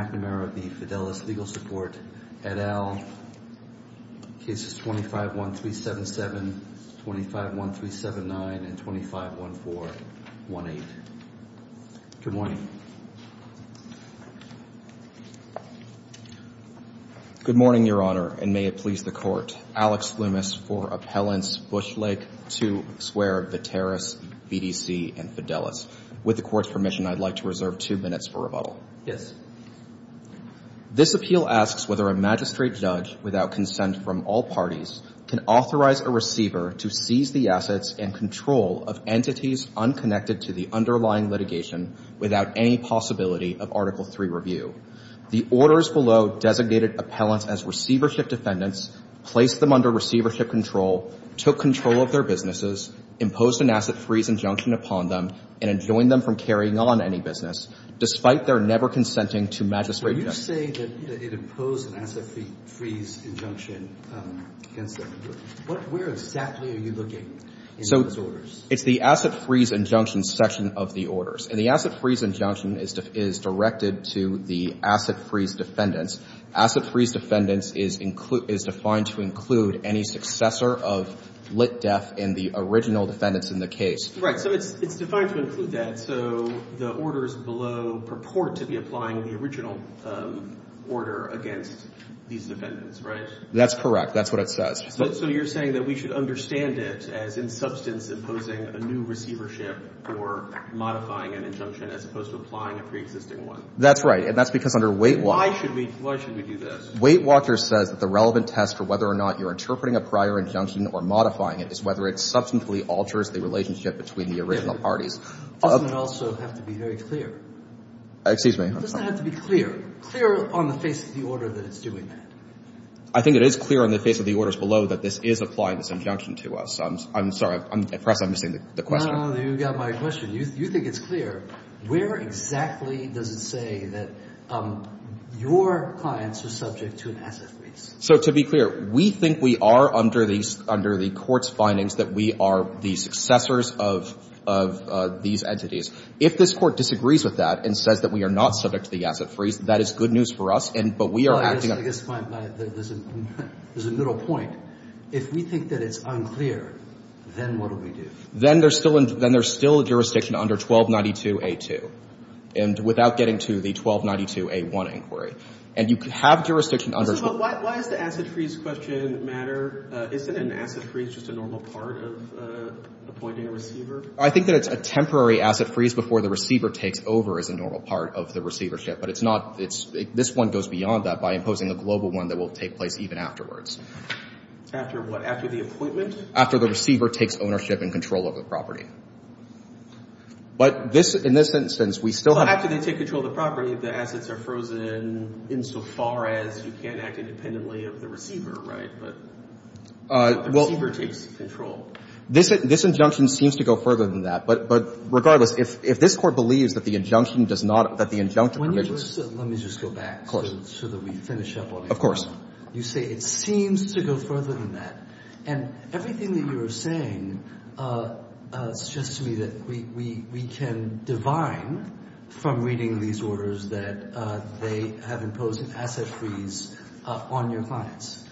McNamara v. Fidelis Legal Support, et al. Cases 251377, 251379, and 251418. Good morning. Good morning, Your Honor, and may it please the Court. Alex Loomis for Appellants Bushlake to swear of Viteris, BDC, and Fidelis. With the Court's permission, I'd like to reserve two minutes for rebuttal. Yes. This appeal asks whether a magistrate judge without consent from all parties can authorize a receiver to seize the assets and control of entities unconnected to the underlying litigation without any possibility of Article III review. The orders below designated appellants as receivership defendants, placed them under receivership control, took control of their businesses, imposed an asset freeze injunction upon them, and enjoined them from carrying on any business, despite their never consenting to magistrate judgment. So you say that it imposed an asset freeze injunction against them. Where exactly are you looking in those orders? So it's the asset freeze injunction section of the orders. And the asset freeze injunction is directed to the asset freeze defendants. Asset freeze defendants is defined to include any successor of lit def in the original defendants in the case. Right. So it's It's defined to include that. So the orders below purport to be applying the original order against these defendants, right? That's correct. That's what it says. So you're saying that we should understand it as in substance imposing a new receivership or modifying an injunction as opposed to applying a preexisting one? That's right. And that's because under Weight Watcher. Why should we do this? Weight Watcher says that the relevant test for whether or not you're interpreting a prior injunction or modifying it is whether it substantially alters the relationship between the original parties. Doesn't it also have to be very clear? Excuse me? Doesn't it have to be clear? Clear on the face of the order that it's doing that? I think it is clear on the face of the orders below that this is applying this injunction to us. I'm sorry. I'm impressed I'm missing the question. You got my question. You think it's clear. Where exactly does it say that your clients are subject to an asset freeze? So to be clear, we think we are under the Court's findings that we are the successors of these entities. If this Court disagrees with that and says that we are not subject to the asset freeze, that is good news for us, but we are acting on it. I guess there's a middle point. If we think that it's unclear, then what do we do? Then there's still a jurisdiction under 1292a2 and without getting to the 1292a1 inquiry. And you could have jurisdiction under 1292a2. Why does the asset freeze question matter? Isn't an asset freeze just a normal part of appointing a receiver? I think that it's a temporary asset freeze before the receiver takes over as a normal part of the receivership. But it's not. This one goes beyond that by imposing a global one that will take place even afterwards. After what? After the appointment? After the receiver takes ownership and control of the property. But in this instance, we still have to... But after they take control of the property, the assets are frozen insofar as you can't act independently of the receiver, right? But the receiver takes control. This injunction seems to go further than that. But regardless, if this Court believes that the injunction does not, that the injunction... Let me just go back so that we finish up on it. Of course. You say it seems to go further than that. And everything that you're saying suggests to me that we can divine from reading these orders that they have imposed an asset freeze on your clients.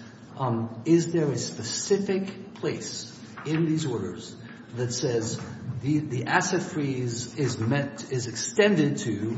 Is there a specific place in these orders that says the asset freeze is extended to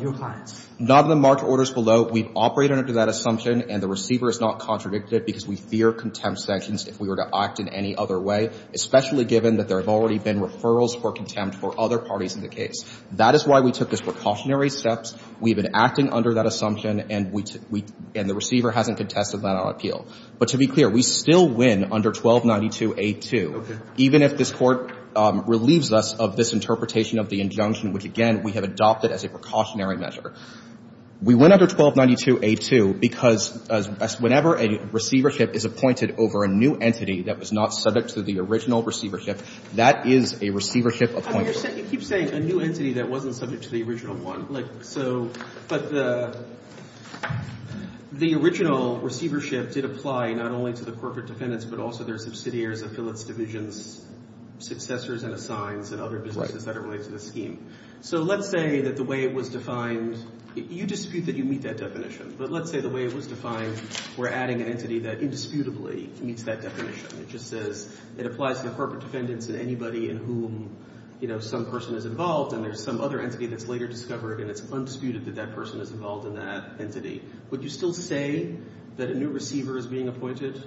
your clients? None of them mark orders below. So we've operated under that assumption, and the receiver has not contradicted it because we fear contempt sanctions if we were to act in any other way, especially given that there have already been referrals for contempt for other parties in the case. That is why we took those precautionary steps. We've been acting under that assumption, and the receiver hasn't contested that on appeal. But to be clear, we still win under 1292A2, even if this Court relieves us of this interpretation of the injunction, which, again, we have adopted as a precautionary measure. We win under 1292A2 because whenever a receivership is appointed over a new entity that was not subject to the original receivership, that is a receivership appointment. You keep saying a new entity that wasn't subject to the original one. Like, so, but the original receivership did apply not only to the corporate defendants, but also their subsidiaries, affiliates, divisions, successors, and assigns, and other businesses that are related to this scheme. So let's say that the way it was defined, you dispute that you meet that definition, but let's say the way it was defined, we're adding an entity that indisputably meets that definition. It just says it applies to the corporate defendants and anybody in whom, you know, some person is involved, and there's some other entity that's later discovered, and it's undisputed that that person is involved in that entity. Would you still say that a new receiver is being appointed?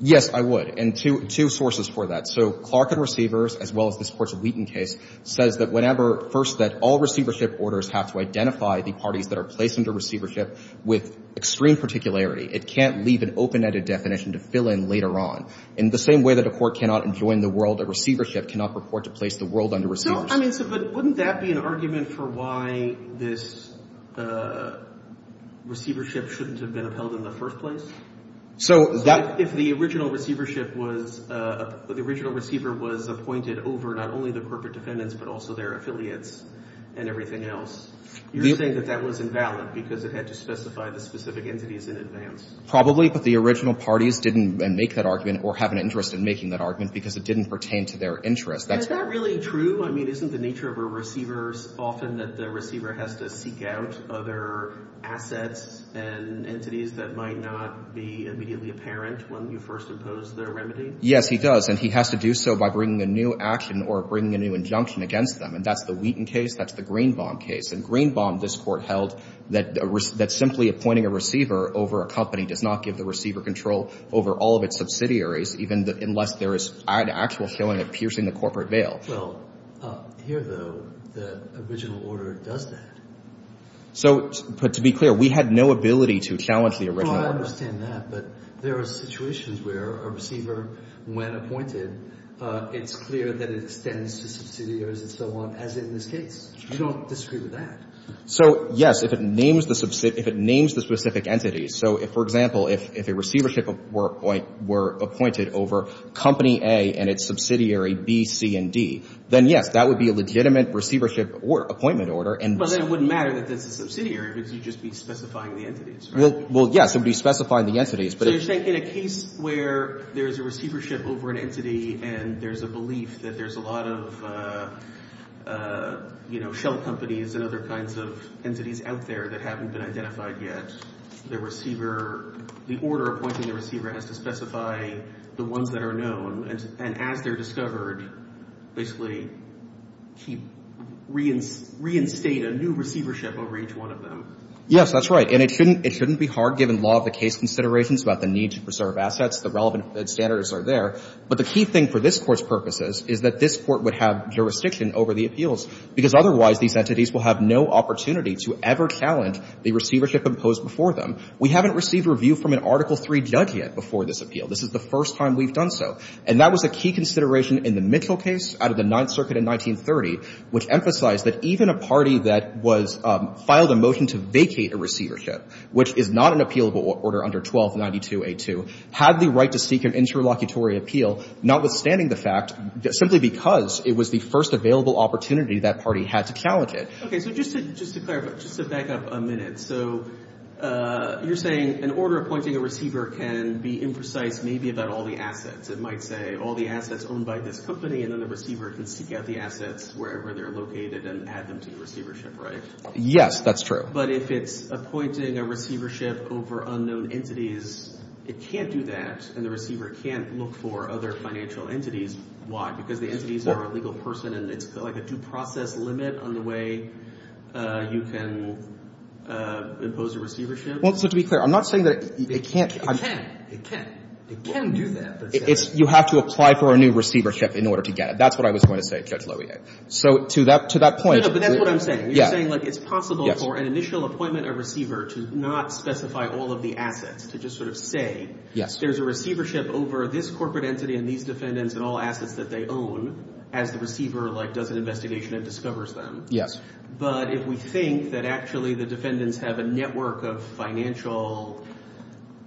Yes, I would, and two sources for that. So Clark and Receivers, as well as this Court's Wheaton case, says that whenever first that all receivership orders have to identify the parties that are placed under receivership with extreme particularity, it can't leave an open-ended definition to fill in later on. In the same way that a court cannot enjoin the world of receivership cannot purport to place the world under receivership. So, I mean, so wouldn't that be an argument for why this receivership shouldn't have been upheld in the first place? So that... If the original receivership was, the original receiver was appointed over not only the corporate defendants, but also their affiliates and everything else, you're saying that that was invalid because it had to specify the specific entities in advance? Probably, but the original parties didn't make that argument or have an interest in making that argument because it didn't pertain to their interest. Is that really true? I mean, isn't the nature of a receiver often that the receiver has to seek out other assets and entities that might not be immediately apparent when you first impose their remedy? Yes, he does, and he has to do so by bringing a new action or bringing a new injunction against them. And that's the Wheaton case. That's the Greenbaum case. And Greenbaum, this Court held, that simply appointing a receiver over a company does not give the receiver control over all of its subsidiaries, even unless there is an actual feeling of piercing the corporate veil. Well, here, though, the original order does that. So, but to be clear, we had no ability to challenge the original order. Well, I understand that, but there are situations where a receiver, when appointed, it's clear that it extends to subsidiaries and so on, as in this case. You don't disagree with that. So, yes, if it names the subsidiary, if it names the specific entities, so if, for example, if a receivership were appointed over Company A and its subsidiary B, C, and D, then, yes, that would be a legitimate receivership or appointment order. But then it wouldn't matter that this is a subsidiary because you'd just be specifying the entities, right? Well, yes, it would be specifying the entities, but it's... So you're saying in a case where there's a receivership over an entity and there's a belief that there's a lot of, you know, shell companies and other kinds of entities out there that haven't been identified yet, the order appointing the receiver has to specify the ones that are known, and as they're discovered, basically reinstate a new receivership over each one of them. Yes, that's right. And it shouldn't be hard, given law of the case considerations about the need to preserve assets, the relevant standards are there. But the key thing for this Court's purposes is that this Court would have jurisdiction over the appeals because otherwise these entities will have no opportunity to ever challenge the receivership imposed before them. We haven't received review from an Article III judge yet before this appeal. This is the first time we've done so. And that was a key consideration in the Mitchell case out of the Ninth Circuit in 1930, which emphasized that even a party that was – filed a motion to vacate a receivership, which is not an appealable order under 1292A2, had the right to seek an interlocutory appeal, notwithstanding the fact – simply because it was the first available opportunity that party had to challenge it. Okay, so just to back up a minute. So you're saying an order appointing a receiver can be imprecise maybe about all the assets. It might say all the assets owned by this company, and then the receiver can seek out the assets wherever they're located and add them to the receivership, right? Yes, that's true. But if it's appointing a receivership over unknown entities, it can't do that, and the receiver can't look for other financial entities. Why? Because the entities are a legal person, and it's like a due process limit on the way you can impose a receivership? Well, so to be clear, I'm not saying that it can't – It can. It can. It can do that. It's – you have to apply for a new receivership in order to get it. That's what I was going to say, Judge Loewi. So to that – to that point – No, no, but that's what I'm saying. You're saying, like, it's possible for an initial appointment of a receiver to not specify all of the assets, to just sort of say – Yes. There's a receivership over this corporate entity and these defendants and all assets that they own as the receiver, like, does an investigation and discovers them. Yes. But if we think that actually the defendants have a network of financial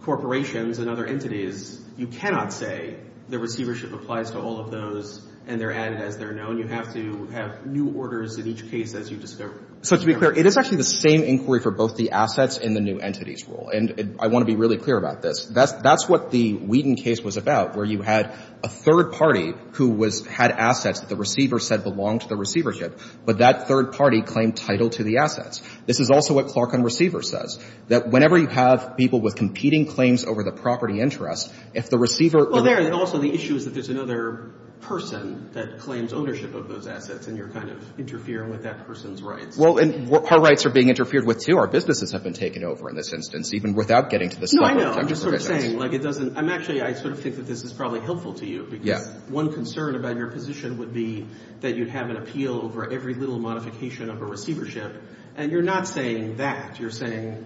corporations and other entities, you cannot say the receivership applies to all of those and they're added as they're known. You have to have new orders in each case as you discover them. So to be clear, it is actually the same inquiry for both the assets and the new entities rule, and I want to be really clear about this. That's – that's what the Whedon case was about, where you had a third party who was – had assets that the receiver said belonged to the receivership, but that third party claimed title to the assets. This is also what Clark on receivers says, that whenever you have people with competing claims over the property interest, if the receiver – Well, there – and also the issue is that there's another person that claims ownership of those assets and you're kind of interfering with that person's rights. Well, and our rights are being interfered with, too. Our businesses have been taken over in this instance, even without getting to this point. No, I know. I'm just sort of saying, like, it doesn't – I'm actually – I sort of think that this is probably helpful to you. Yeah. Because one concern about your position would be that you'd have an appeal over every little modification of a receivership, and you're not saying that. You're saying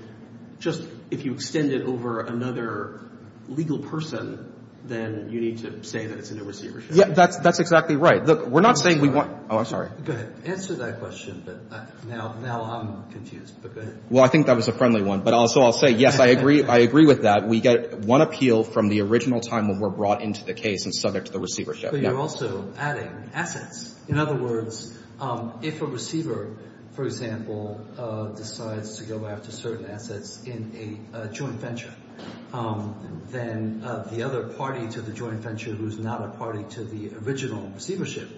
just if you extend it over another legal person, then you need to say that it's a new receivership. Yeah, that's – that's exactly right. Look, we're not saying we want – oh, I'm sorry. Go ahead. Answer that question, but now – now I'm confused, but go ahead. Well, I think that was a friendly one, but also I'll say, yes, I agree – I agree with that. We get one appeal from the original time when we're brought into the case and subject to the receivership. But you're also adding assets. In other words, if a receiver, for example, decides to go after certain assets in a joint venture, then the other party to the joint venture who's not a party to the original receivership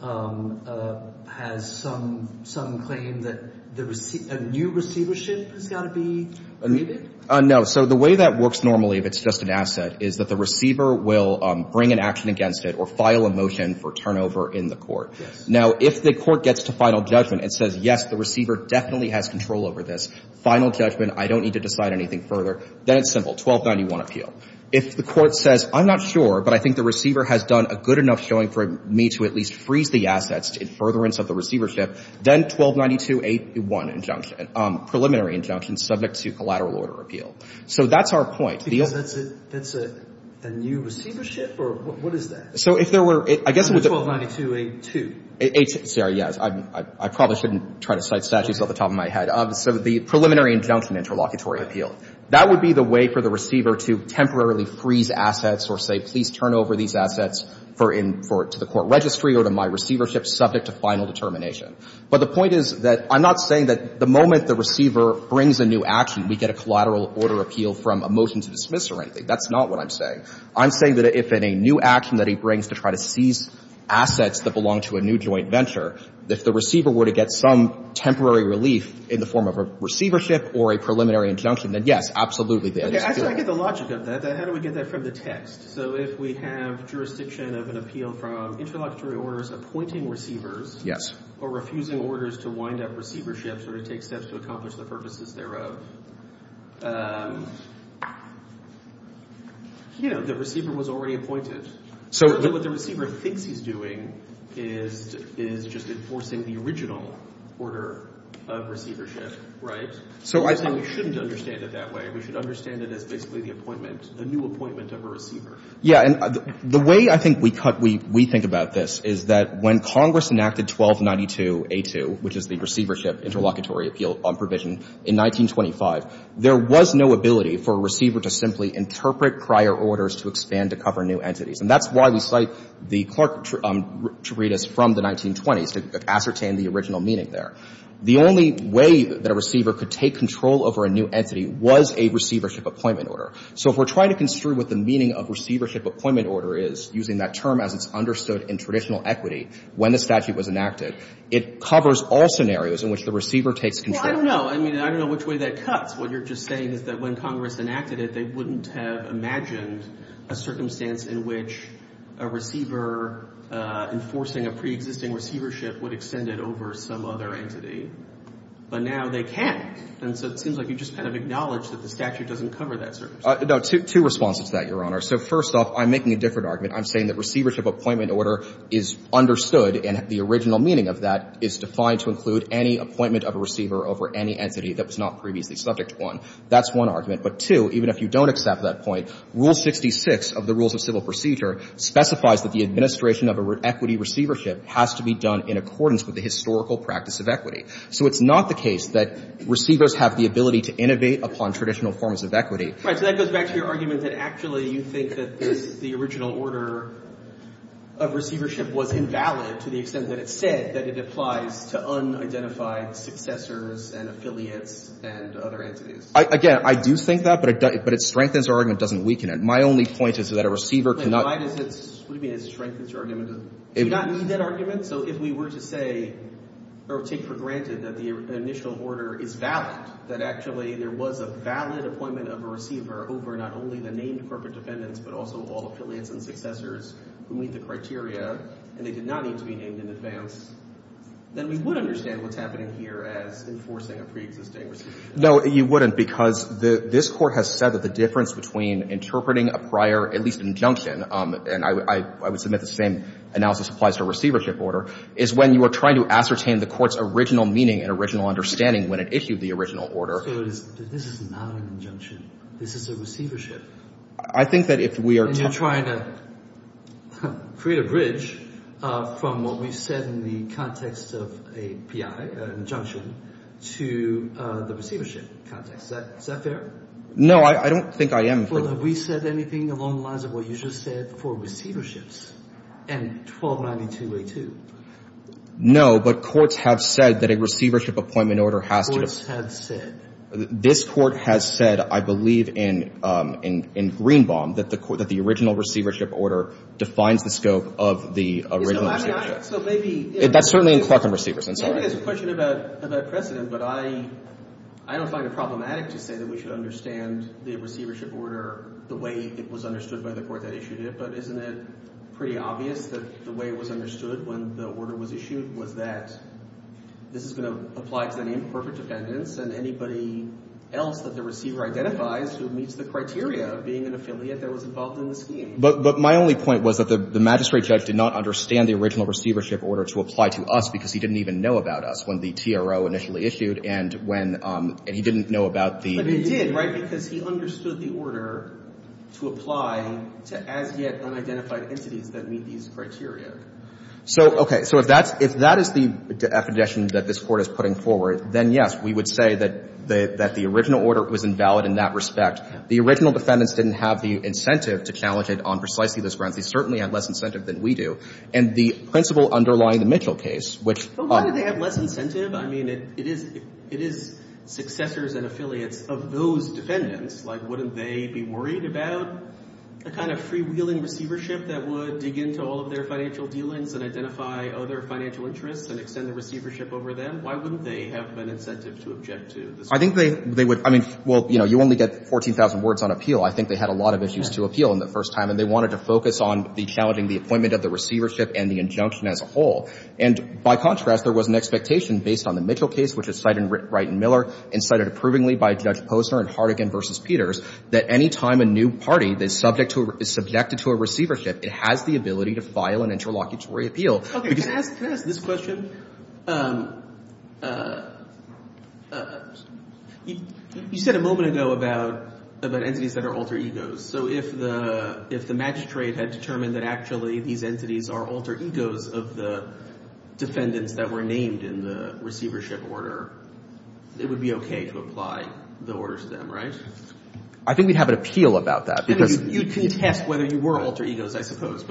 has some claim that a new receivership has got to be needed? No. So the way that works normally if it's just an asset is that the receiver will bring an action against it or file a motion for turnover in the court. Yes. Now, if the court gets to final judgment and says, yes, the receiver definitely has control over this, final judgment, I don't need to decide anything further, then it's simple, 1291 appeal. If the court says, I'm not sure, but I think the receiver has done a good enough showing for me to at least freeze the assets in furtherance of the receivership, then 1292A1 injunction, preliminary injunction subject to collateral order appeal. So that's our point. Because that's a – that's a new receivership? Or what is that? So if there were – I guess it would – 1292A2. A2. Sarah, yes. I probably shouldn't try to cite statutes off the top of my head. So the preliminary injunction interlocutory appeal. That would be the way for the receiver to temporarily freeze assets or say, please turn over these assets for in – for – to the court registry or to my receivership subject to final determination. But the point is that I'm not saying that the moment the receiver brings a new action, we get a collateral order appeal from a motion to dismiss or anything. That's not what I'm saying. I'm saying that if in a new action that he brings to try to seize assets that belong to a new joint venture, if the receiver were to get some temporary relief in the form of a receivership or a preliminary injunction, then yes, absolutely. I get the logic of that. How do we get that from the text? So if we have jurisdiction of an appeal from interlocutory orders appointing receivers. Yes. Or refusing orders to wind up receiverships or to take steps to accomplish the purposes thereof. You know, the receiver was already appointed. So what the receiver thinks he's doing is just enforcing the original order of receivership, right? So I think we shouldn't understand it that way. We should understand it as basically the appointment, the new appointment of a receiver. Yeah. And the way I think we cut – we think about this is that when Congress enacted 1292A2, which is the receivership interlocutory appeal provision in 1925, there was no ability for a receiver to simply interpret prior orders to expand to cover new entities. And that's why we cite the Clark treatise from the 1920s to ascertain the original meaning there. The only way that a receiver could take control over a new entity was a receivership appointment order. So if we're trying to construe what the meaning of receivership appointment order is, using that term as it's understood in traditional equity when the statute was enacted, it covers all scenarios in which the receiver takes control. Well, I don't know. I mean, I don't know which way that cuts. What you're just saying is that when Congress enacted it, they wouldn't have imagined a circumstance in which a receiver enforcing a preexisting receivership would extend it over some other entity. But now they can. And so it seems like you just kind of acknowledge that the statute doesn't cover that circumstance. No. Two responses to that, Your Honor. So first off, I'm making a different argument. I'm saying that receivership appointment order is understood, and the original meaning of that is defined to include any appointment of a receiver over any entity that was not previously subject to one. That's one argument. But, two, even if you don't accept that point, Rule 66 of the Rules of Civil Procedure specifies that the administration of an equity receivership has to be done in accordance with the historical practice of equity. So it's not the case that receivers have the ability to innovate upon traditional forms of equity. So that goes back to your argument that actually you think that the original order of receivership was invalid to the extent that it said that it applies to unidentified successors and affiliates and other entities. Again, I do think that, but it strengthens our argument. It doesn't weaken it. My only point is that a receiver cannot... Why does it... What do you mean it strengthens your argument? Do you not need that argument? So if we were to say or take for granted that the initial order is valid, that actually there was a valid appointment of a receiver over not only the named corporate defendants but also all affiliates and successors who meet the criteria, and they did not need to be named in advance, then we would understand what's happening here as enforcing a preexisting receivership. No, you wouldn't, because this Court has said that the difference between interpreting a prior, at least an injunction, and I would submit the same analysis applies to a receivership order, is when you are trying to ascertain the Court's original meaning and original understanding when it issued the original order. So this is not an injunction. This is a receivership. I think that if we are... And you're trying to create a bridge from what we said in the context of a PI, an injunction, to the receivership context. Is that fair? No, I don't think I am. Well, have we said anything along the lines of what you just said for receiverships and 1292A2? No, but courts have said that a receivership appointment order has to... Courts have said. This Court has said, I believe, in Greenbaum, that the original receivership order defines the scope of the original receivership. So maybe... That's certainly in Clarkham Receivers. Maybe there's a question about precedent, but I don't find it problematic to say that we should understand the receivership order the way it was understood by the Court that issued it, but isn't it pretty obvious that the way it was understood when the order was issued was that this is going to apply to an imperfect defendants and anybody else that the receiver identifies who meets the criteria of being an affiliate that was involved in the scheme. But my only point was that the magistrate judge did not understand the original receivership order to apply to us because he didn't even know about us when the TRO initially issued, and when... And he didn't know about the... But he did, right, because he understood the order to apply to as-yet unidentified entities that meet these criteria. So, okay. So if that's the definition that this Court is putting forward, then, yes, we would say that the original order was invalid in that respect. The original defendants didn't have the incentive to challenge it on precisely those grounds. They certainly had less incentive than we do. And the principle underlying the Mitchell case, which... But why did they have less incentive? I mean, it is successors and affiliates of those defendants. Like, wouldn't they be worried about the kind of freewheeling receivership that would dig into all of their financial dealings and identify other financial interests and extend the receivership over them? Why wouldn't they have an incentive to object to the scheme? I think they would... I mean, well, you know, you only get 14,000 words on appeal. I think they had a lot of issues to appeal in the first time, and they wanted to focus on the challenging the appointment of the receivership and the injunction as a whole. And by contrast, there was an expectation based on the Mitchell case, which is cited in Wright and Miller, and cited approvingly by Judge Posner in Hardigan v. Peters, that any time a new party is subjected to a receivership, it has the ability to file an interlocutory appeal. Okay, can I ask this question? You said a moment ago about entities that are alter egos. So if the magistrate had determined that actually these entities are alter egos of the defendants that were named in the receivership order, it would be okay to apply the order to them, right? I think we'd have an appeal about that because... But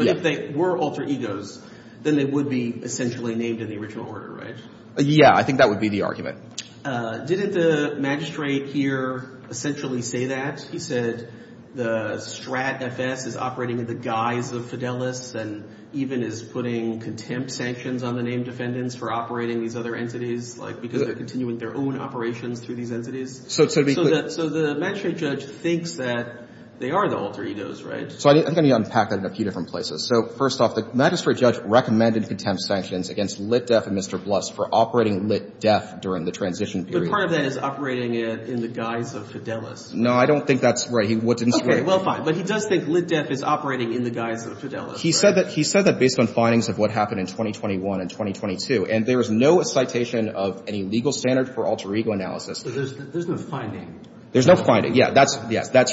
if they were alter egos, then they would be essentially named in the original order, right? Yeah, I think that would be the argument. Didn't the magistrate here essentially say that? He said the Strat FS is operating in the guise of Fidelis and even is putting contempt sanctions on the named defendants for operating these other entities because they're continuing their own operations through these entities. So the magistrate judge thinks that they are the alter egos, right? So I'm going to unpack that in a few different places. So first off, the magistrate judge recommended contempt sanctions against Lit Def and Mr. Bluss for operating Lit Def during the transition period. But part of that is operating in the guise of Fidelis. No, I don't think that's right. Okay, well, fine. But he does think Lit Def is operating in the guise of Fidelis. He said that based on findings of what happened in 2021 and 2022, and there is no citation of any legal standard for alter ego analysis. There's no finding. There's no finding. Yeah, that's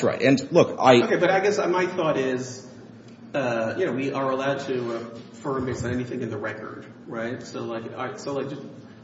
right. Okay, but I guess my thought is, you know, we are allowed to affirm based on anything in the record, right? So, like,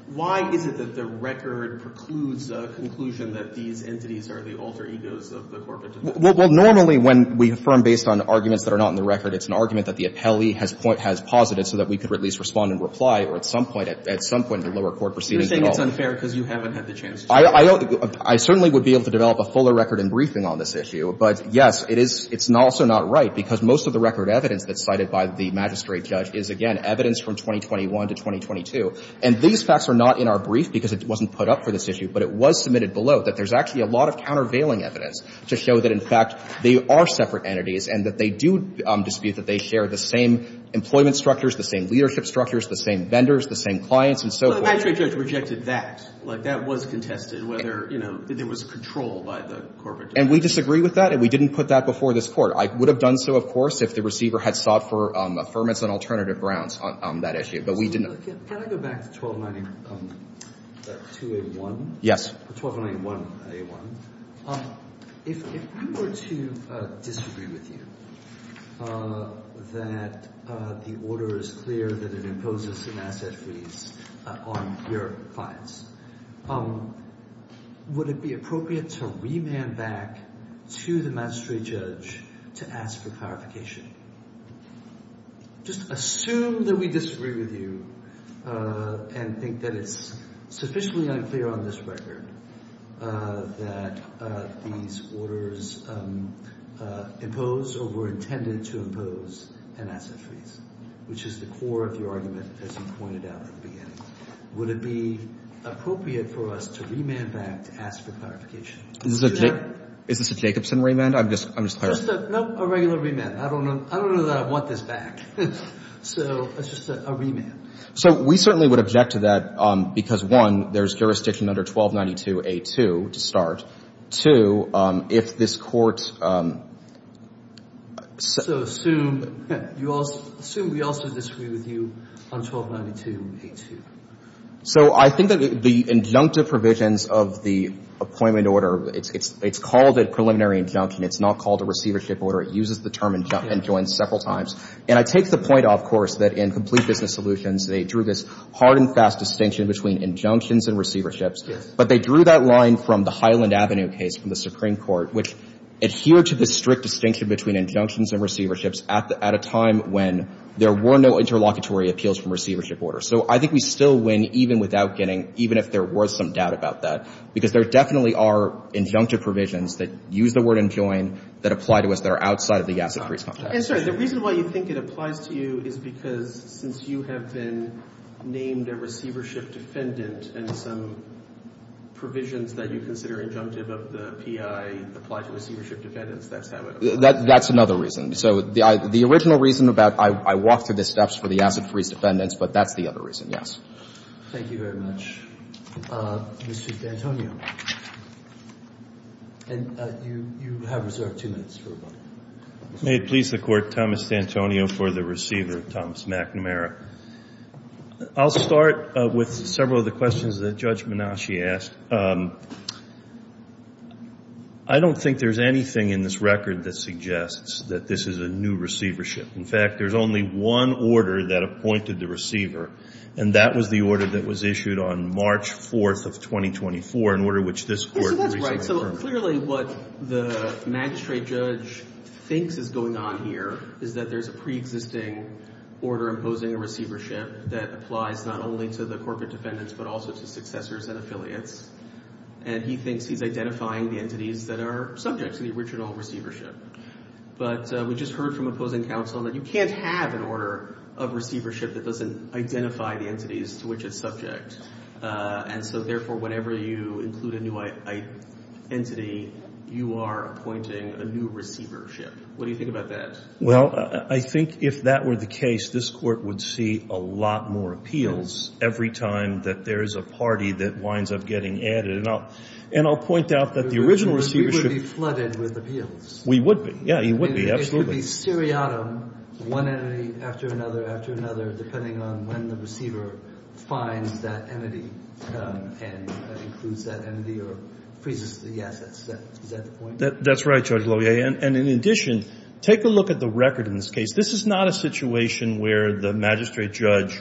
why is it that the record precludes a conclusion that these entities are the alter egos of the corporate defense? Well, normally when we affirm based on arguments that are not in the record, it's an argument that the appellee has posited so that we could at least respond in reply or at some point, at some point in the lower court proceeding. You're saying it's unfair because you haven't had the chance to. Well, I certainly would be able to develop a fuller record in briefing on this issue, but, yes, it's also not right because most of the record evidence that's cited by the magistrate judge is, again, evidence from 2021 to 2022. And these facts are not in our brief because it wasn't put up for this issue, but it was submitted below that there's actually a lot of countervailing evidence to show that, in fact, they are separate entities and that they do dispute that they share the same employment structures, the same leadership structures, the same vendors, the same clients, and so forth. Well, the magistrate judge rejected that. Like, that was contested whether, you know, there was control by the corporate defense. And we disagree with that, and we didn't put that before this Court. I would have done so, of course, if the receiver had sought for affirmance on alternative grounds on that issue, but we didn't. Can I go back to 1291a1? Yes. 1291a1. If we were to disagree with you that the order is clear that it imposes an asset freeze on your clients, would it be appropriate to remand back to the magistrate judge to ask for clarification? Just assume that we disagree with you and think that it's sufficiently unclear on this record that these orders impose or were intended to impose an asset freeze, which is the core of your argument, as you pointed out at the beginning. Would it be appropriate for us to remand back to ask for clarification? Is this a Jacobson remand? I'm just clarifying. Just a regular remand. I don't know that I want this back. So it's just a remand. So we certainly would object to that because, one, there's jurisdiction under 1292a2 to start. Two, if this Court — So assume we also disagree with you on 1292a2. So I think that the injunctive provisions of the appointment order, it's called a preliminary injunction. It's not called a receivership order. It uses the term injunction several times. And I take the point, of course, that in Complete Business Solutions, they drew this hard and fast distinction between injunctions and receiverships. But they drew that line from the Highland Avenue case from the Supreme Court, which adhered to the strict distinction between injunctions and receiverships at a time when there were no interlocutory appeals from receivership orders. So I think we still win even without getting — even if there were some doubt about that, because there definitely are injunctive provisions that use the word enjoin that apply to us that are outside of the asset freeze context. And, sir, the reason why you think it applies to you is because since you have been named a receivership defendant and some provisions that you consider injunctive of the P.I. apply to receivership defendants, that's how it applies. That's another reason. So the original reason about I walk through the steps for the asset freeze defendants, but that's the other reason, yes. Thank you very much. Mr. D'Antonio, you have reserved two minutes for rebuttal. May it please the Court, Thomas D'Antonio for the receiver, Thomas McNamara. I'll start with several of the questions that Judge Menasche asked. I don't think there's anything in this record that suggests that this is a new receivership. In fact, there's only one order that appointed the receiver, and that was the order that was issued on March 4th of 2024, an order which this Court recently affirmed. That's right. So clearly what the magistrate judge thinks is going on here is that there's a preexisting order imposing a receivership that applies not only to the corporate defendants, but also to successors and affiliates. And he thinks he's identifying the entities that are subject to the original receivership. But we just heard from opposing counsel that you can't have an order of receivership that doesn't identify the entities to which it's subject. And so, therefore, whenever you include a new entity, you are appointing a new receivership. What do you think about that? Well, I think if that were the case, this Court would see a lot more appeals every time that there is a party that winds up getting added. And I'll point out that the original receivership — We would be flooded with appeals. We would be. Yeah, you would be, absolutely. It would be seriatim, one entity after another after another, depending on when the receiver finds that entity and includes that entity or freezes the assets. Is that the point? That's right, Judge Loeb. And in addition, take a look at the record in this case. This is not a situation where the magistrate judge,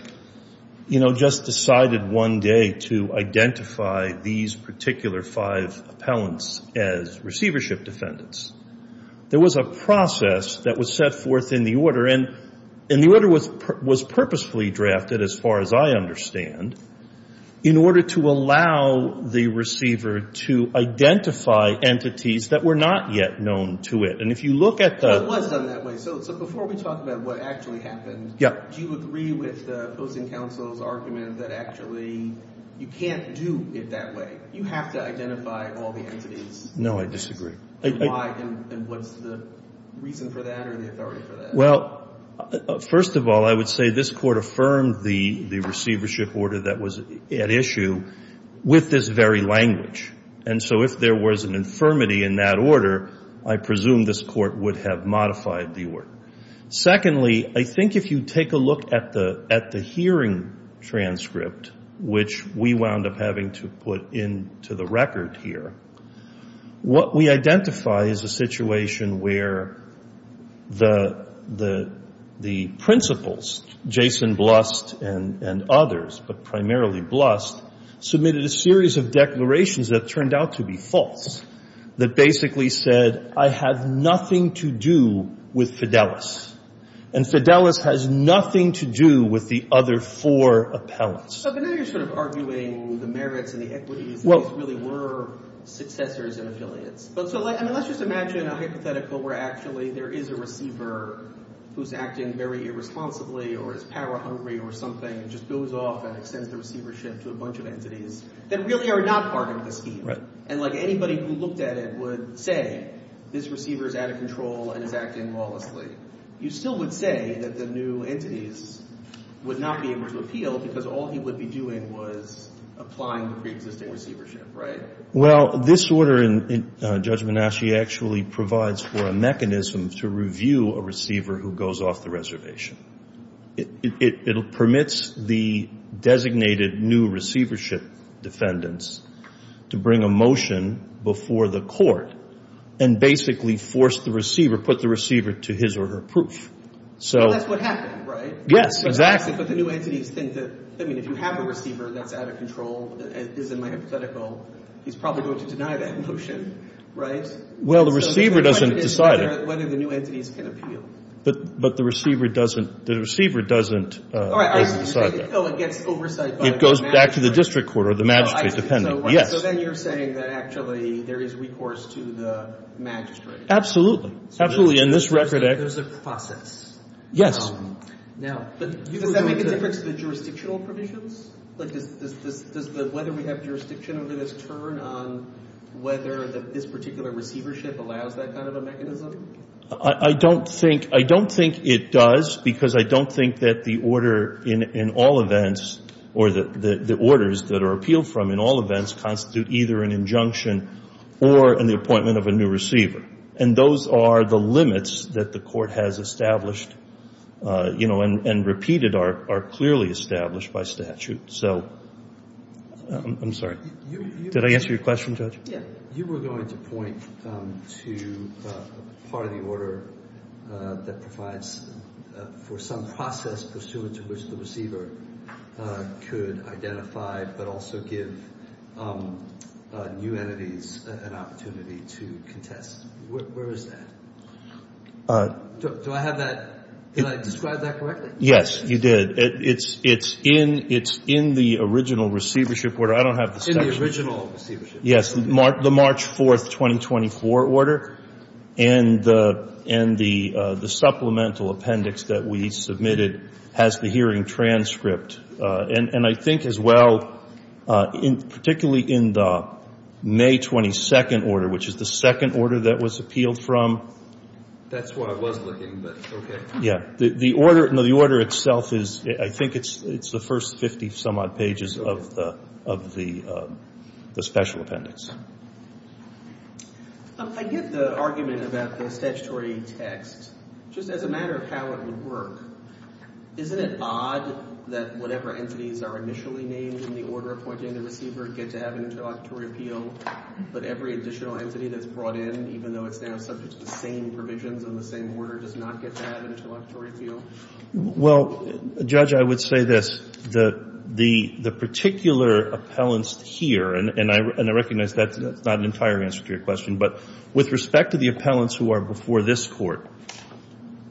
you know, just decided one day to identify these particular five appellants as receivership defendants. There was a process that was set forth in the order. And the order was purposefully drafted, as far as I understand, in order to allow the receiver to identify entities that were not yet known to it. And if you look at the — It was done that way. So before we talk about what actually happened, do you agree with the opposing counsel's argument that actually you can't do it that way? You have to identify all the entities. No, I disagree. And why? And what's the reason for that or the authority for that? Well, first of all, I would say this court affirmed the receivership order that was at issue with this very language. And so if there was an infirmity in that order, I presume this court would have modified the order. Secondly, I think if you take a look at the hearing transcript, which we wound up having to put into the record here, what we identify is a situation where the principals, Jason Blust and others, but primarily Blust, submitted a series of declarations that turned out to be false, that basically said, I have nothing to do with Fidelis. And Fidelis has nothing to do with the other four appellants. But now you're sort of arguing the merits and the equities. These really were successors and affiliates. So let's just imagine a hypothetical where actually there is a receiver who's acting very irresponsibly or is power hungry or something and just goes off and extends the receivership to a bunch of entities that really are not part of the scheme. And like anybody who looked at it would say, this receiver is out of control and is acting lawlessly. You still would say that the new entities would not be able to appeal because all he would be doing was applying the preexisting receivership, right? Well, this order in Judge Menasche actually provides for a mechanism to review a receiver who goes off the reservation. It permits the designated new receivership defendants to bring a motion before the court and basically force the receiver, put the receiver to his or her proof. Well, that's what happened, right? Yes, exactly. But the new entities think that, I mean, if you have a receiver that's out of control, as in my hypothetical, he's probably going to deny that motion, right? Well, the receiver doesn't decide it. Whether the new entities can appeal. But the receiver doesn't decide that. It gets oversight by the magistrate. It goes back to the district court or the magistrate dependent, yes. So then you're saying that actually there is recourse to the magistrate. Absolutely. Absolutely. And this record acts. There's a process. Now, does that make a difference to the jurisdictional provisions? Like does the whether we have jurisdiction over this turn on whether this particular receivership allows that kind of a mechanism? I don't think it does because I don't think that the order in all events or the orders that are appealed from in all events constitute either an injunction or an appointment of a new receiver. And those are the limits that the court has established, you know, and repeated are clearly established by statute. So I'm sorry. Did I answer your question, Judge? You were going to point to part of the order that provides for some process pursuant to which the receiver could identify but also give new entities an opportunity to contest. Where is that? Do I have that? Did I describe that correctly? Yes, you did. It's in the original receivership order. I don't have the statute. It's in the original receivership. Yes, the March 4th, 2024 order. And the supplemental appendix that we submitted has the hearing transcript. And I think as well, particularly in the May 22nd order, which is the second order that was appealed from. That's what I was looking, but okay. Yeah. The order itself is, I think it's the first 50 some odd pages of the special appendix. I get the argument about the statutory text. Just as a matter of how it would work, isn't it odd that whatever entities are initially named in the order appointing a receiver get to have an introductory appeal, but every additional entity that's brought in, even though it's now subject to the same provisions and the same order, does not get to have an introductory appeal? Well, Judge, I would say this. The particular appellants here, and I recognize that's not an entire answer to your question, but with respect to the appellants who are before this Court,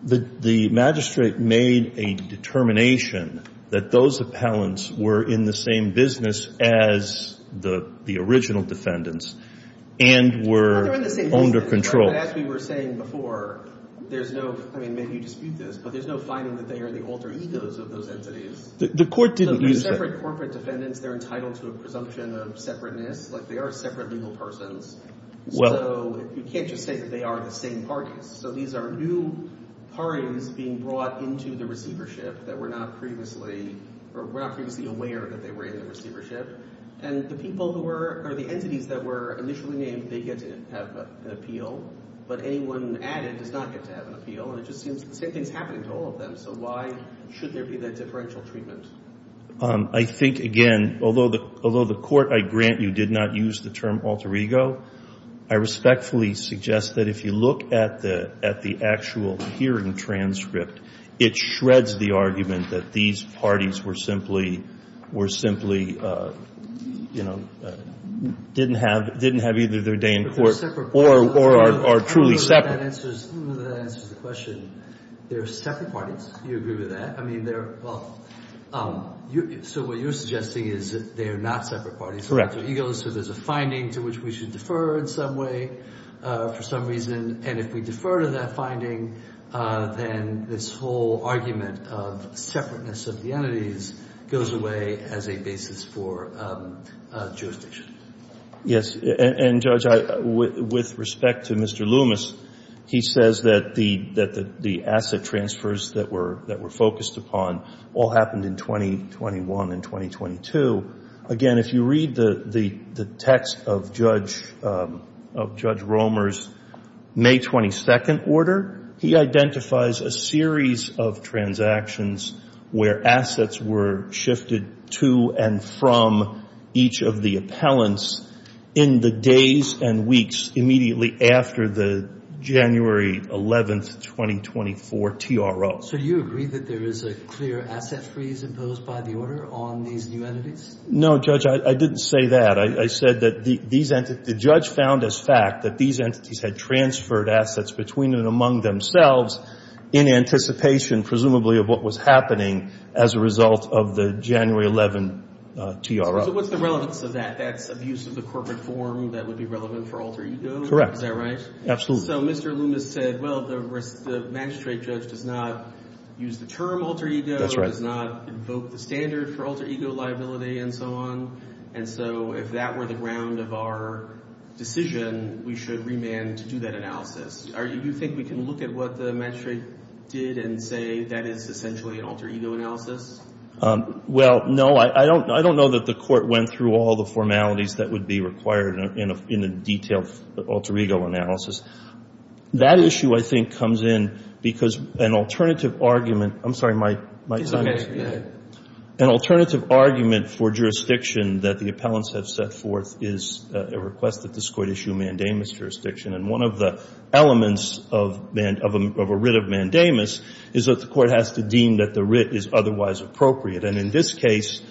the magistrate made a determination that those appellants were in the same business as the original defendants and were under control. As we were saying before, there's no, I mean, maybe you dispute this, but there's no finding that they are the alter egos of those entities. The Court didn't use that. They're separate corporate defendants. They're entitled to a presumption of separateness. They are separate legal persons. So you can't just say that they are the same parties. So these are new parties being brought into the receivership that were not previously, or were not previously aware that they were in the receivership. And the people who were, or the entities that were initially named, they get to have an appeal. But anyone added does not get to have an appeal. And it just seems the same thing is happening to all of them. So why should there be that differential treatment? I think, again, although the Court, I grant you, did not use the term alter ego, I respectfully suggest that if you look at the actual hearing transcript, it shreds the argument that these parties were simply, you know, didn't have either their day in court or are truly separate. I don't know that that answers the question. They're separate parties. Do you agree with that? I mean, they're, well, so what you're suggesting is that they are not separate parties. Correct. So there's a finding to which we should defer in some way for some reason. And if we defer to that finding, then this whole argument of separateness of the entities goes away as a basis for jurisdiction. Yes. And, Judge, with respect to Mr. Loomis, he says that the asset transfers that were focused upon all happened in 2021 and 2022. Again, if you read the text of Judge Romer's May 22nd order, he identifies a series of transactions where assets were shifted to and from each of the appellants in the days and weeks immediately after the January 11th, 2024 TRO. So do you agree that there is a clear asset freeze imposed by the order on these new entities? No, Judge. I didn't say that. I said that the judge found as fact that these entities had transferred assets between and among themselves in anticipation presumably of what was happening as a result of the January 11 TRO. So what's the relevance of that? That's abuse of the corporate form that would be relevant for alter ego? Correct. Is that right? Absolutely. So Mr. Loomis said, well, the magistrate judge does not use the term alter ego. That's right. He does not invoke the standard for alter ego liability and so on. And so if that were the ground of our decision, we should remand to do that analysis. Do you think we can look at what the magistrate did and say that is essentially an alter ego analysis? Well, no. I don't know that the court went through all the formalities that would be required in a detailed alter ego analysis. That issue, I think, comes in because an alternative argument for jurisdiction that the appellants have set forth is a request that this court issue mandamus jurisdiction. And one of the elements of a writ of mandamus is that the court has to deem that the writ is otherwise appropriate. And in this case,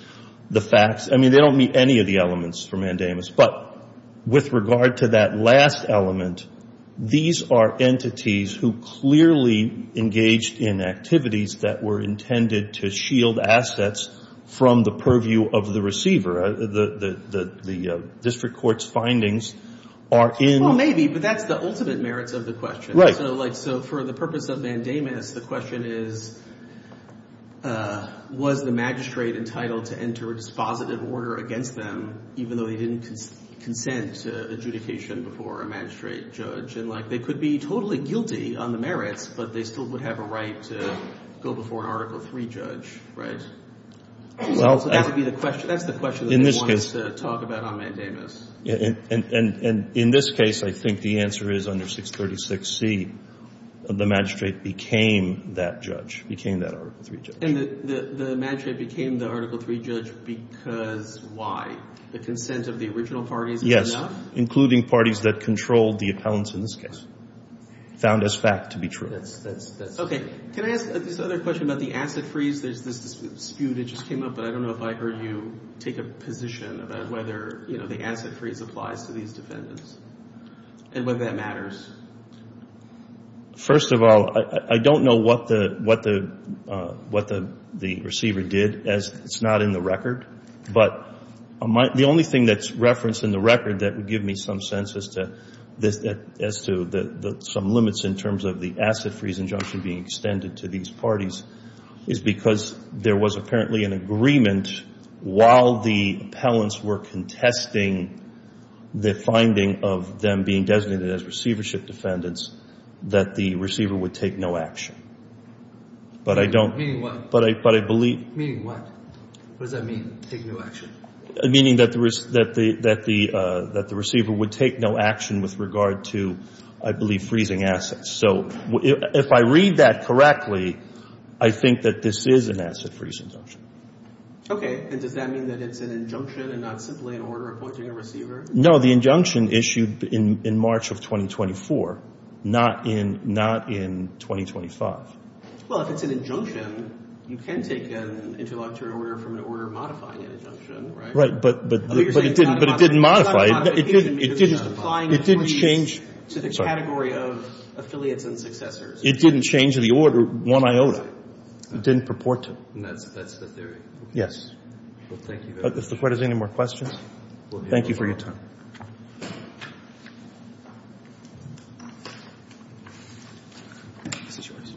the facts, I mean, they don't meet any of the elements for mandamus. But with regard to that last element, these are entities who clearly engaged in activities that were intended to shield assets from the purview of the receiver. The district court's findings are in. Well, maybe. But that's the ultimate merits of the question. Right. So for the purpose of mandamus, the question is, was the magistrate entitled to enter a dispositive order against them even though they didn't consent to adjudication before a magistrate judge? And they could be totally guilty on the merits, but they still would have a right to go before an Article III judge, right? So that's the question that they wanted to talk about on mandamus. And in this case, I think the answer is under 636C, the magistrate became that judge, became that Article III judge. And the magistrate became the Article III judge because why? The consent of the original parties was enough? Yes, including parties that controlled the appellants in this case. Found as fact to be true. Okay. Can I ask this other question about the asset freeze? There's this dispute that just came up, but I don't know if I heard you take a position about whether, you know, the asset freeze applies to these defendants and whether that matters. First of all, I don't know what the receiver did. It's not in the record. But the only thing that's referenced in the record that would give me some sense as to some limits in terms of the asset freeze injunction being extended to these parties is because there was apparently an agreement while the appellants were contesting the finding of them being designated as receivership defendants that the receiver would take no action. Meaning what? Meaning what? What does that mean, take no action? Meaning that the receiver would take no action with regard to, I believe, freezing assets. So if I read that correctly, I think that this is an asset freeze injunction. Okay. And does that mean that it's an injunction and not simply an order appointing a receiver? No, the injunction issued in March of 2024, not in 2025. Well, if it's an injunction, you can take an interlocutor order from an order modifying an injunction, right? Right. But it didn't modify it. It didn't change. It didn't change to the category of affiliates and successors. It didn't change the order one iota. It didn't purport to. And that's the theory. Yes. Well, thank you very much. If the Court has any more questions, thank you for your time. This is yours.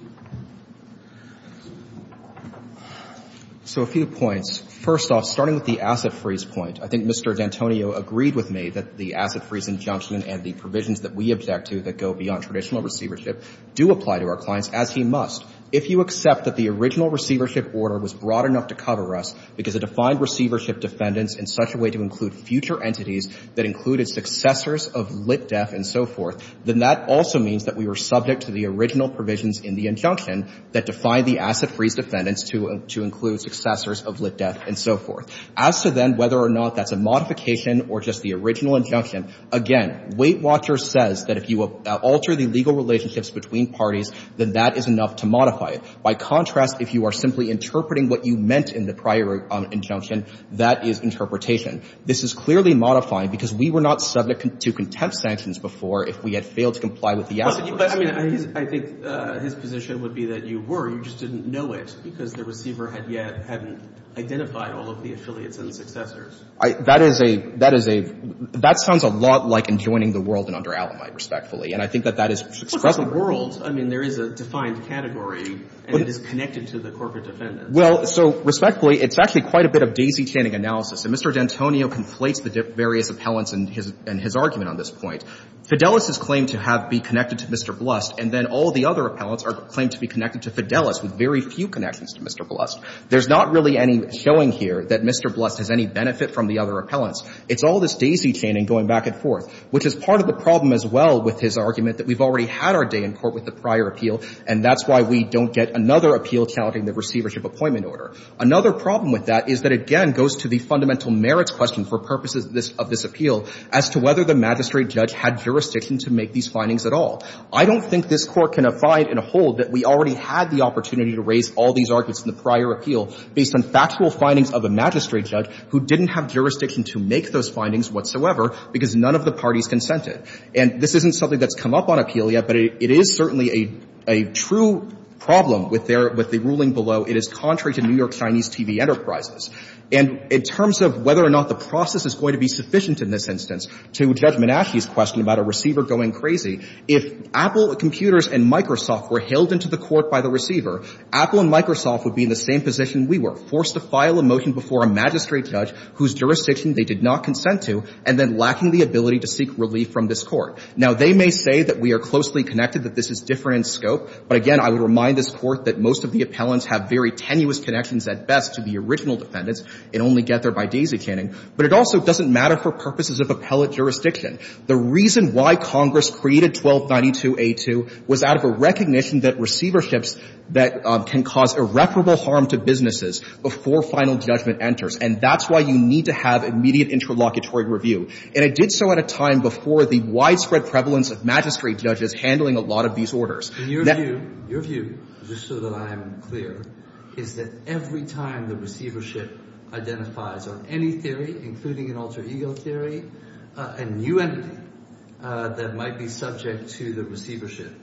So a few points. First off, starting with the asset freeze point, I think Mr. D'Antonio agreed with me that the asset freeze injunction and the provisions that we object to that go beyond traditional receivership do apply to our clients, as he must. If you accept that the original receivership order was broad enough to cover us because it defined receivership defendants in such a way to include future entities that included successors of lit def and so forth, then that also means that we were subject to the original provisions in the injunction that defined the asset freeze defendants to include successors of lit def and so forth. As to then whether or not that's a modification or just the original injunction, again, Weight Watcher says that if you alter the legal relationships between parties, then that is enough to modify it. By contrast, if you are simply interpreting what you meant in the prior injunction, that is interpretation. This is clearly modifying because we were not subject to contempt sanctions before if we had failed to comply with the asset freeze. Well, but I mean, I think his position would be that you were, you just didn't know it because the receiver had yet hadn't identified all of the affiliates and successors. That is a — that is a — that sounds a lot like enjoining the world and under Alamite, respectfully. And I think that that is expressly — I mean, there is a defined category, and it is connected to the corporate defendants. Well, so respectfully, it's actually quite a bit of daisy-chaining analysis. And Mr. D'Antonio conflates the various appellants in his — in his argument on this point. Fidelis' claim to have — be connected to Mr. Blust, and then all the other appellants are claimed to be connected to Fidelis with very few connections to Mr. Blust. There's not really any showing here that Mr. Blust has any benefit from the other appellants. It's all this daisy-chaining going back and forth, which is part of the problem as well with his argument that we've already had our day in court with the prior appeal, and that's why we don't get another appeal challenging the receivership appointment order. Another problem with that is that, again, goes to the fundamental merits question for purposes of this — of this appeal as to whether the magistrate judge had jurisdiction to make these findings at all. I don't think this Court can find and hold that we already had the opportunity to raise all these arguments in the prior appeal based on factual findings of a magistrate judge who didn't have jurisdiction to make those findings whatsoever because none of the parties consented. And this isn't something that's come up on appeal yet, but it is certainly a — a true problem with their — with the ruling below. It is contrary to New York Chinese TV Enterprises. And in terms of whether or not the process is going to be sufficient in this instance to Judge Menache's question about a receiver going crazy, if Apple Computers and Microsoft were hailed into the Court by the receiver, Apple and Microsoft would be in the same position we were, forced to file a motion before a magistrate judge whose jurisdiction they did not consent to and then lacking the ability to seek relief from this Court. Now, they may say that we are closely connected, that this is different in scope. But again, I would remind this Court that most of the appellants have very tenuous connections at best to the original defendants and only get there by daisy-chaining. But it also doesn't matter for purposes of appellate jurisdiction. The reason why Congress created 1292a2 was out of a recognition that receiverships that can cause irreparable harm to businesses before final judgment enters, and that's why you need to have immediate interlocutory review. And it did so at a time before the widespread prevalence of magistrate judges handling a lot of these orders. Your view, just so that I am clear, is that every time the receivership identifies on any theory, including an alter ego theory, a new entity that might be subject to the receivership,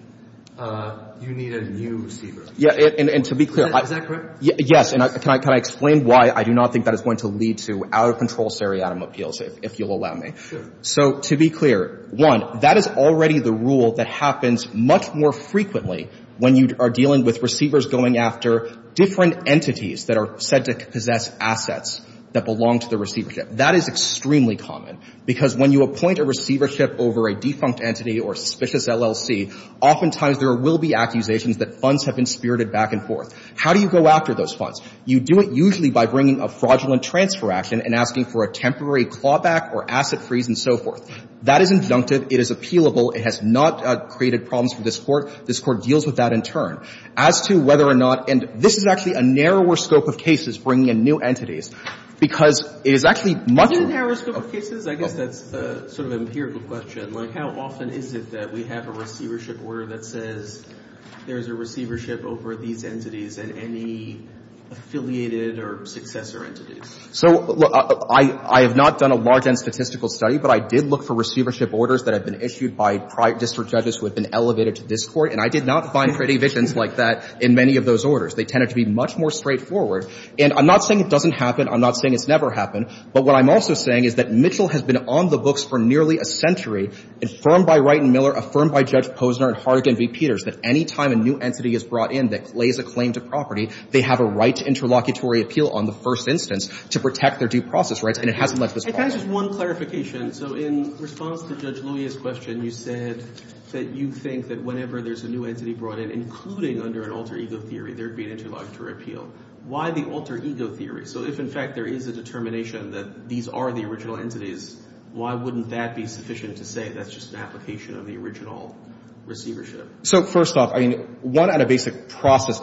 you need a new receiver. Yeah, and to be clear... Is that correct? Yes. And can I explain why I do not think that is going to lead to out-of-control seriatim appeals, if you'll allow me? Sure. So to be clear, one, that is already the rule that happens much more frequently when you are dealing with receivers going after different entities that are said to possess assets that belong to the receivership. That is extremely common, because when you appoint a receivership over a defunct entity or a suspicious LLC, oftentimes there will be accusations that funds have been spirited back and forth. How do you go after those funds? You do it usually by bringing a fraudulent transfer action and asking for a temporary clawback or asset freeze and so forth. That is inductive. It is appealable. It has not created problems for this Court. This Court deals with that in turn. As to whether or not — and this is actually a narrower scope of cases, bringing in new entities, because it is actually much more... Is it a narrower scope of cases? I guess that's sort of an empirical question. Like, how often is it that we have a receivership order that says there is a receivership order over these entities and any affiliated or successor entities? So, look, I have not done a large-end statistical study, but I did look for receivership orders that have been issued by district judges who have been elevated to this Court, and I did not find pretty visions like that in many of those orders. They tended to be much more straightforward. And I'm not saying it doesn't happen. I'm not saying it's never happened. But what I'm also saying is that Mitchell has been on the books for nearly a century, affirmed by Wright and Miller, affirmed by Judge Posner and Hardigan v. Peters, that any time a new entity is brought in that lays a claim to property, they have a right to interlocutory appeal on the first instance to protect their due process rights, and it hasn't led to this problem. If I could just — one clarification. So in response to Judge Louie's question, you said that you think that whenever there's a new entity brought in, including under an alter ego theory, there would be an interlocutory appeal. Why the alter ego theory? So if, in fact, there is a determination that these are the original entities, why wouldn't that be sufficient to say that's just an application of the original receivership? So first off, I mean, one out of basic process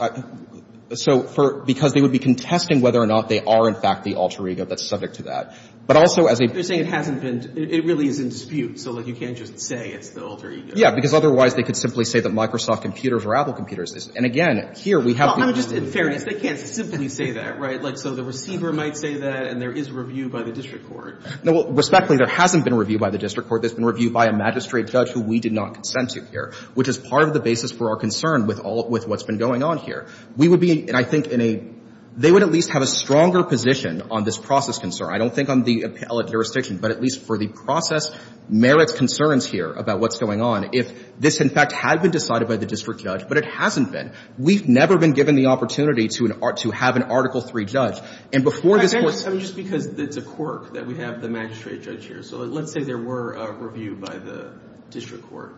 — so for — because they would be contesting whether or not they are, in fact, the alter ego that's subject to that. But also as a — You're saying it hasn't been — it really is in dispute, so, like, you can't just say it's the alter ego. Yeah. Because otherwise they could simply say that Microsoft computers or Apple computers is — and, again, here we have the — Well, I mean, just in fairness, they can't simply say that, right? Like, so the receiver might say that, and there is review by the district court. No. Respectfully, there hasn't been a review by the district court. There's been a review by a magistrate judge who we did not consent to here, which is part of the basis for our concern with all — with what's been going on here. We would be — and I think in a — they would at least have a stronger position on this process concern. I don't think on the appellate jurisdiction, but at least for the process merits concerns here about what's going on if this, in fact, had been decided by the district judge, but it hasn't been. We've never been given the opportunity to have an Article III judge. And before this Court — I mean, just because it's a quirk that we have the magistrate judge here. So let's say there were a review by the district court.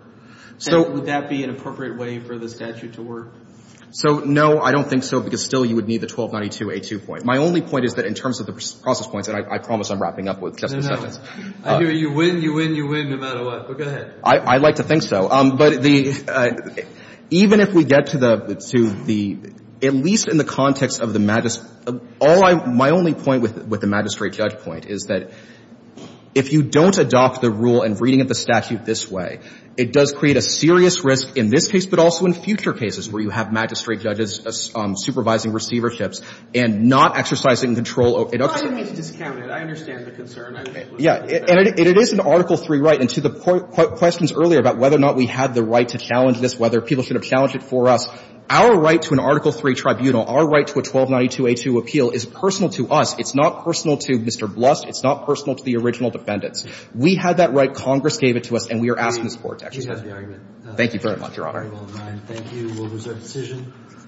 And would that be an appropriate way for the statute to work? So, no, I don't think so, because still you would need the 1292A2 point. My only point is that in terms of the process points — and I promise I'm wrapping up with just the sentence. No, no. I hear you. You win, you win, you win, no matter what. But go ahead. I'd like to think so. But the — even if we get to the — to the — at least in the context of the magistrate — all I — my only point with the magistrate judge point is that if you don't adopt the rule and reading of the statute this way, it does create a serious risk in this case, but also in future cases where you have magistrate judges supervising receiverships and not exercising control. It — Well, I didn't mean to discount it. I understand the concern. Yeah. And it is an Article III right. And to the questions earlier about whether or not we had the right to challenge this, whether people should have challenged it for us, our right to an Article III tribunal, our right to a 1292A2 appeal is personal to us. It's not personal to Mr. Blust. It's not personal to the original defendants. We had that right. Congress gave it to us. And we are asking support to exercise it. She has the argument. Thank you very much, Your Honor. Thank you. We'll reserve decision.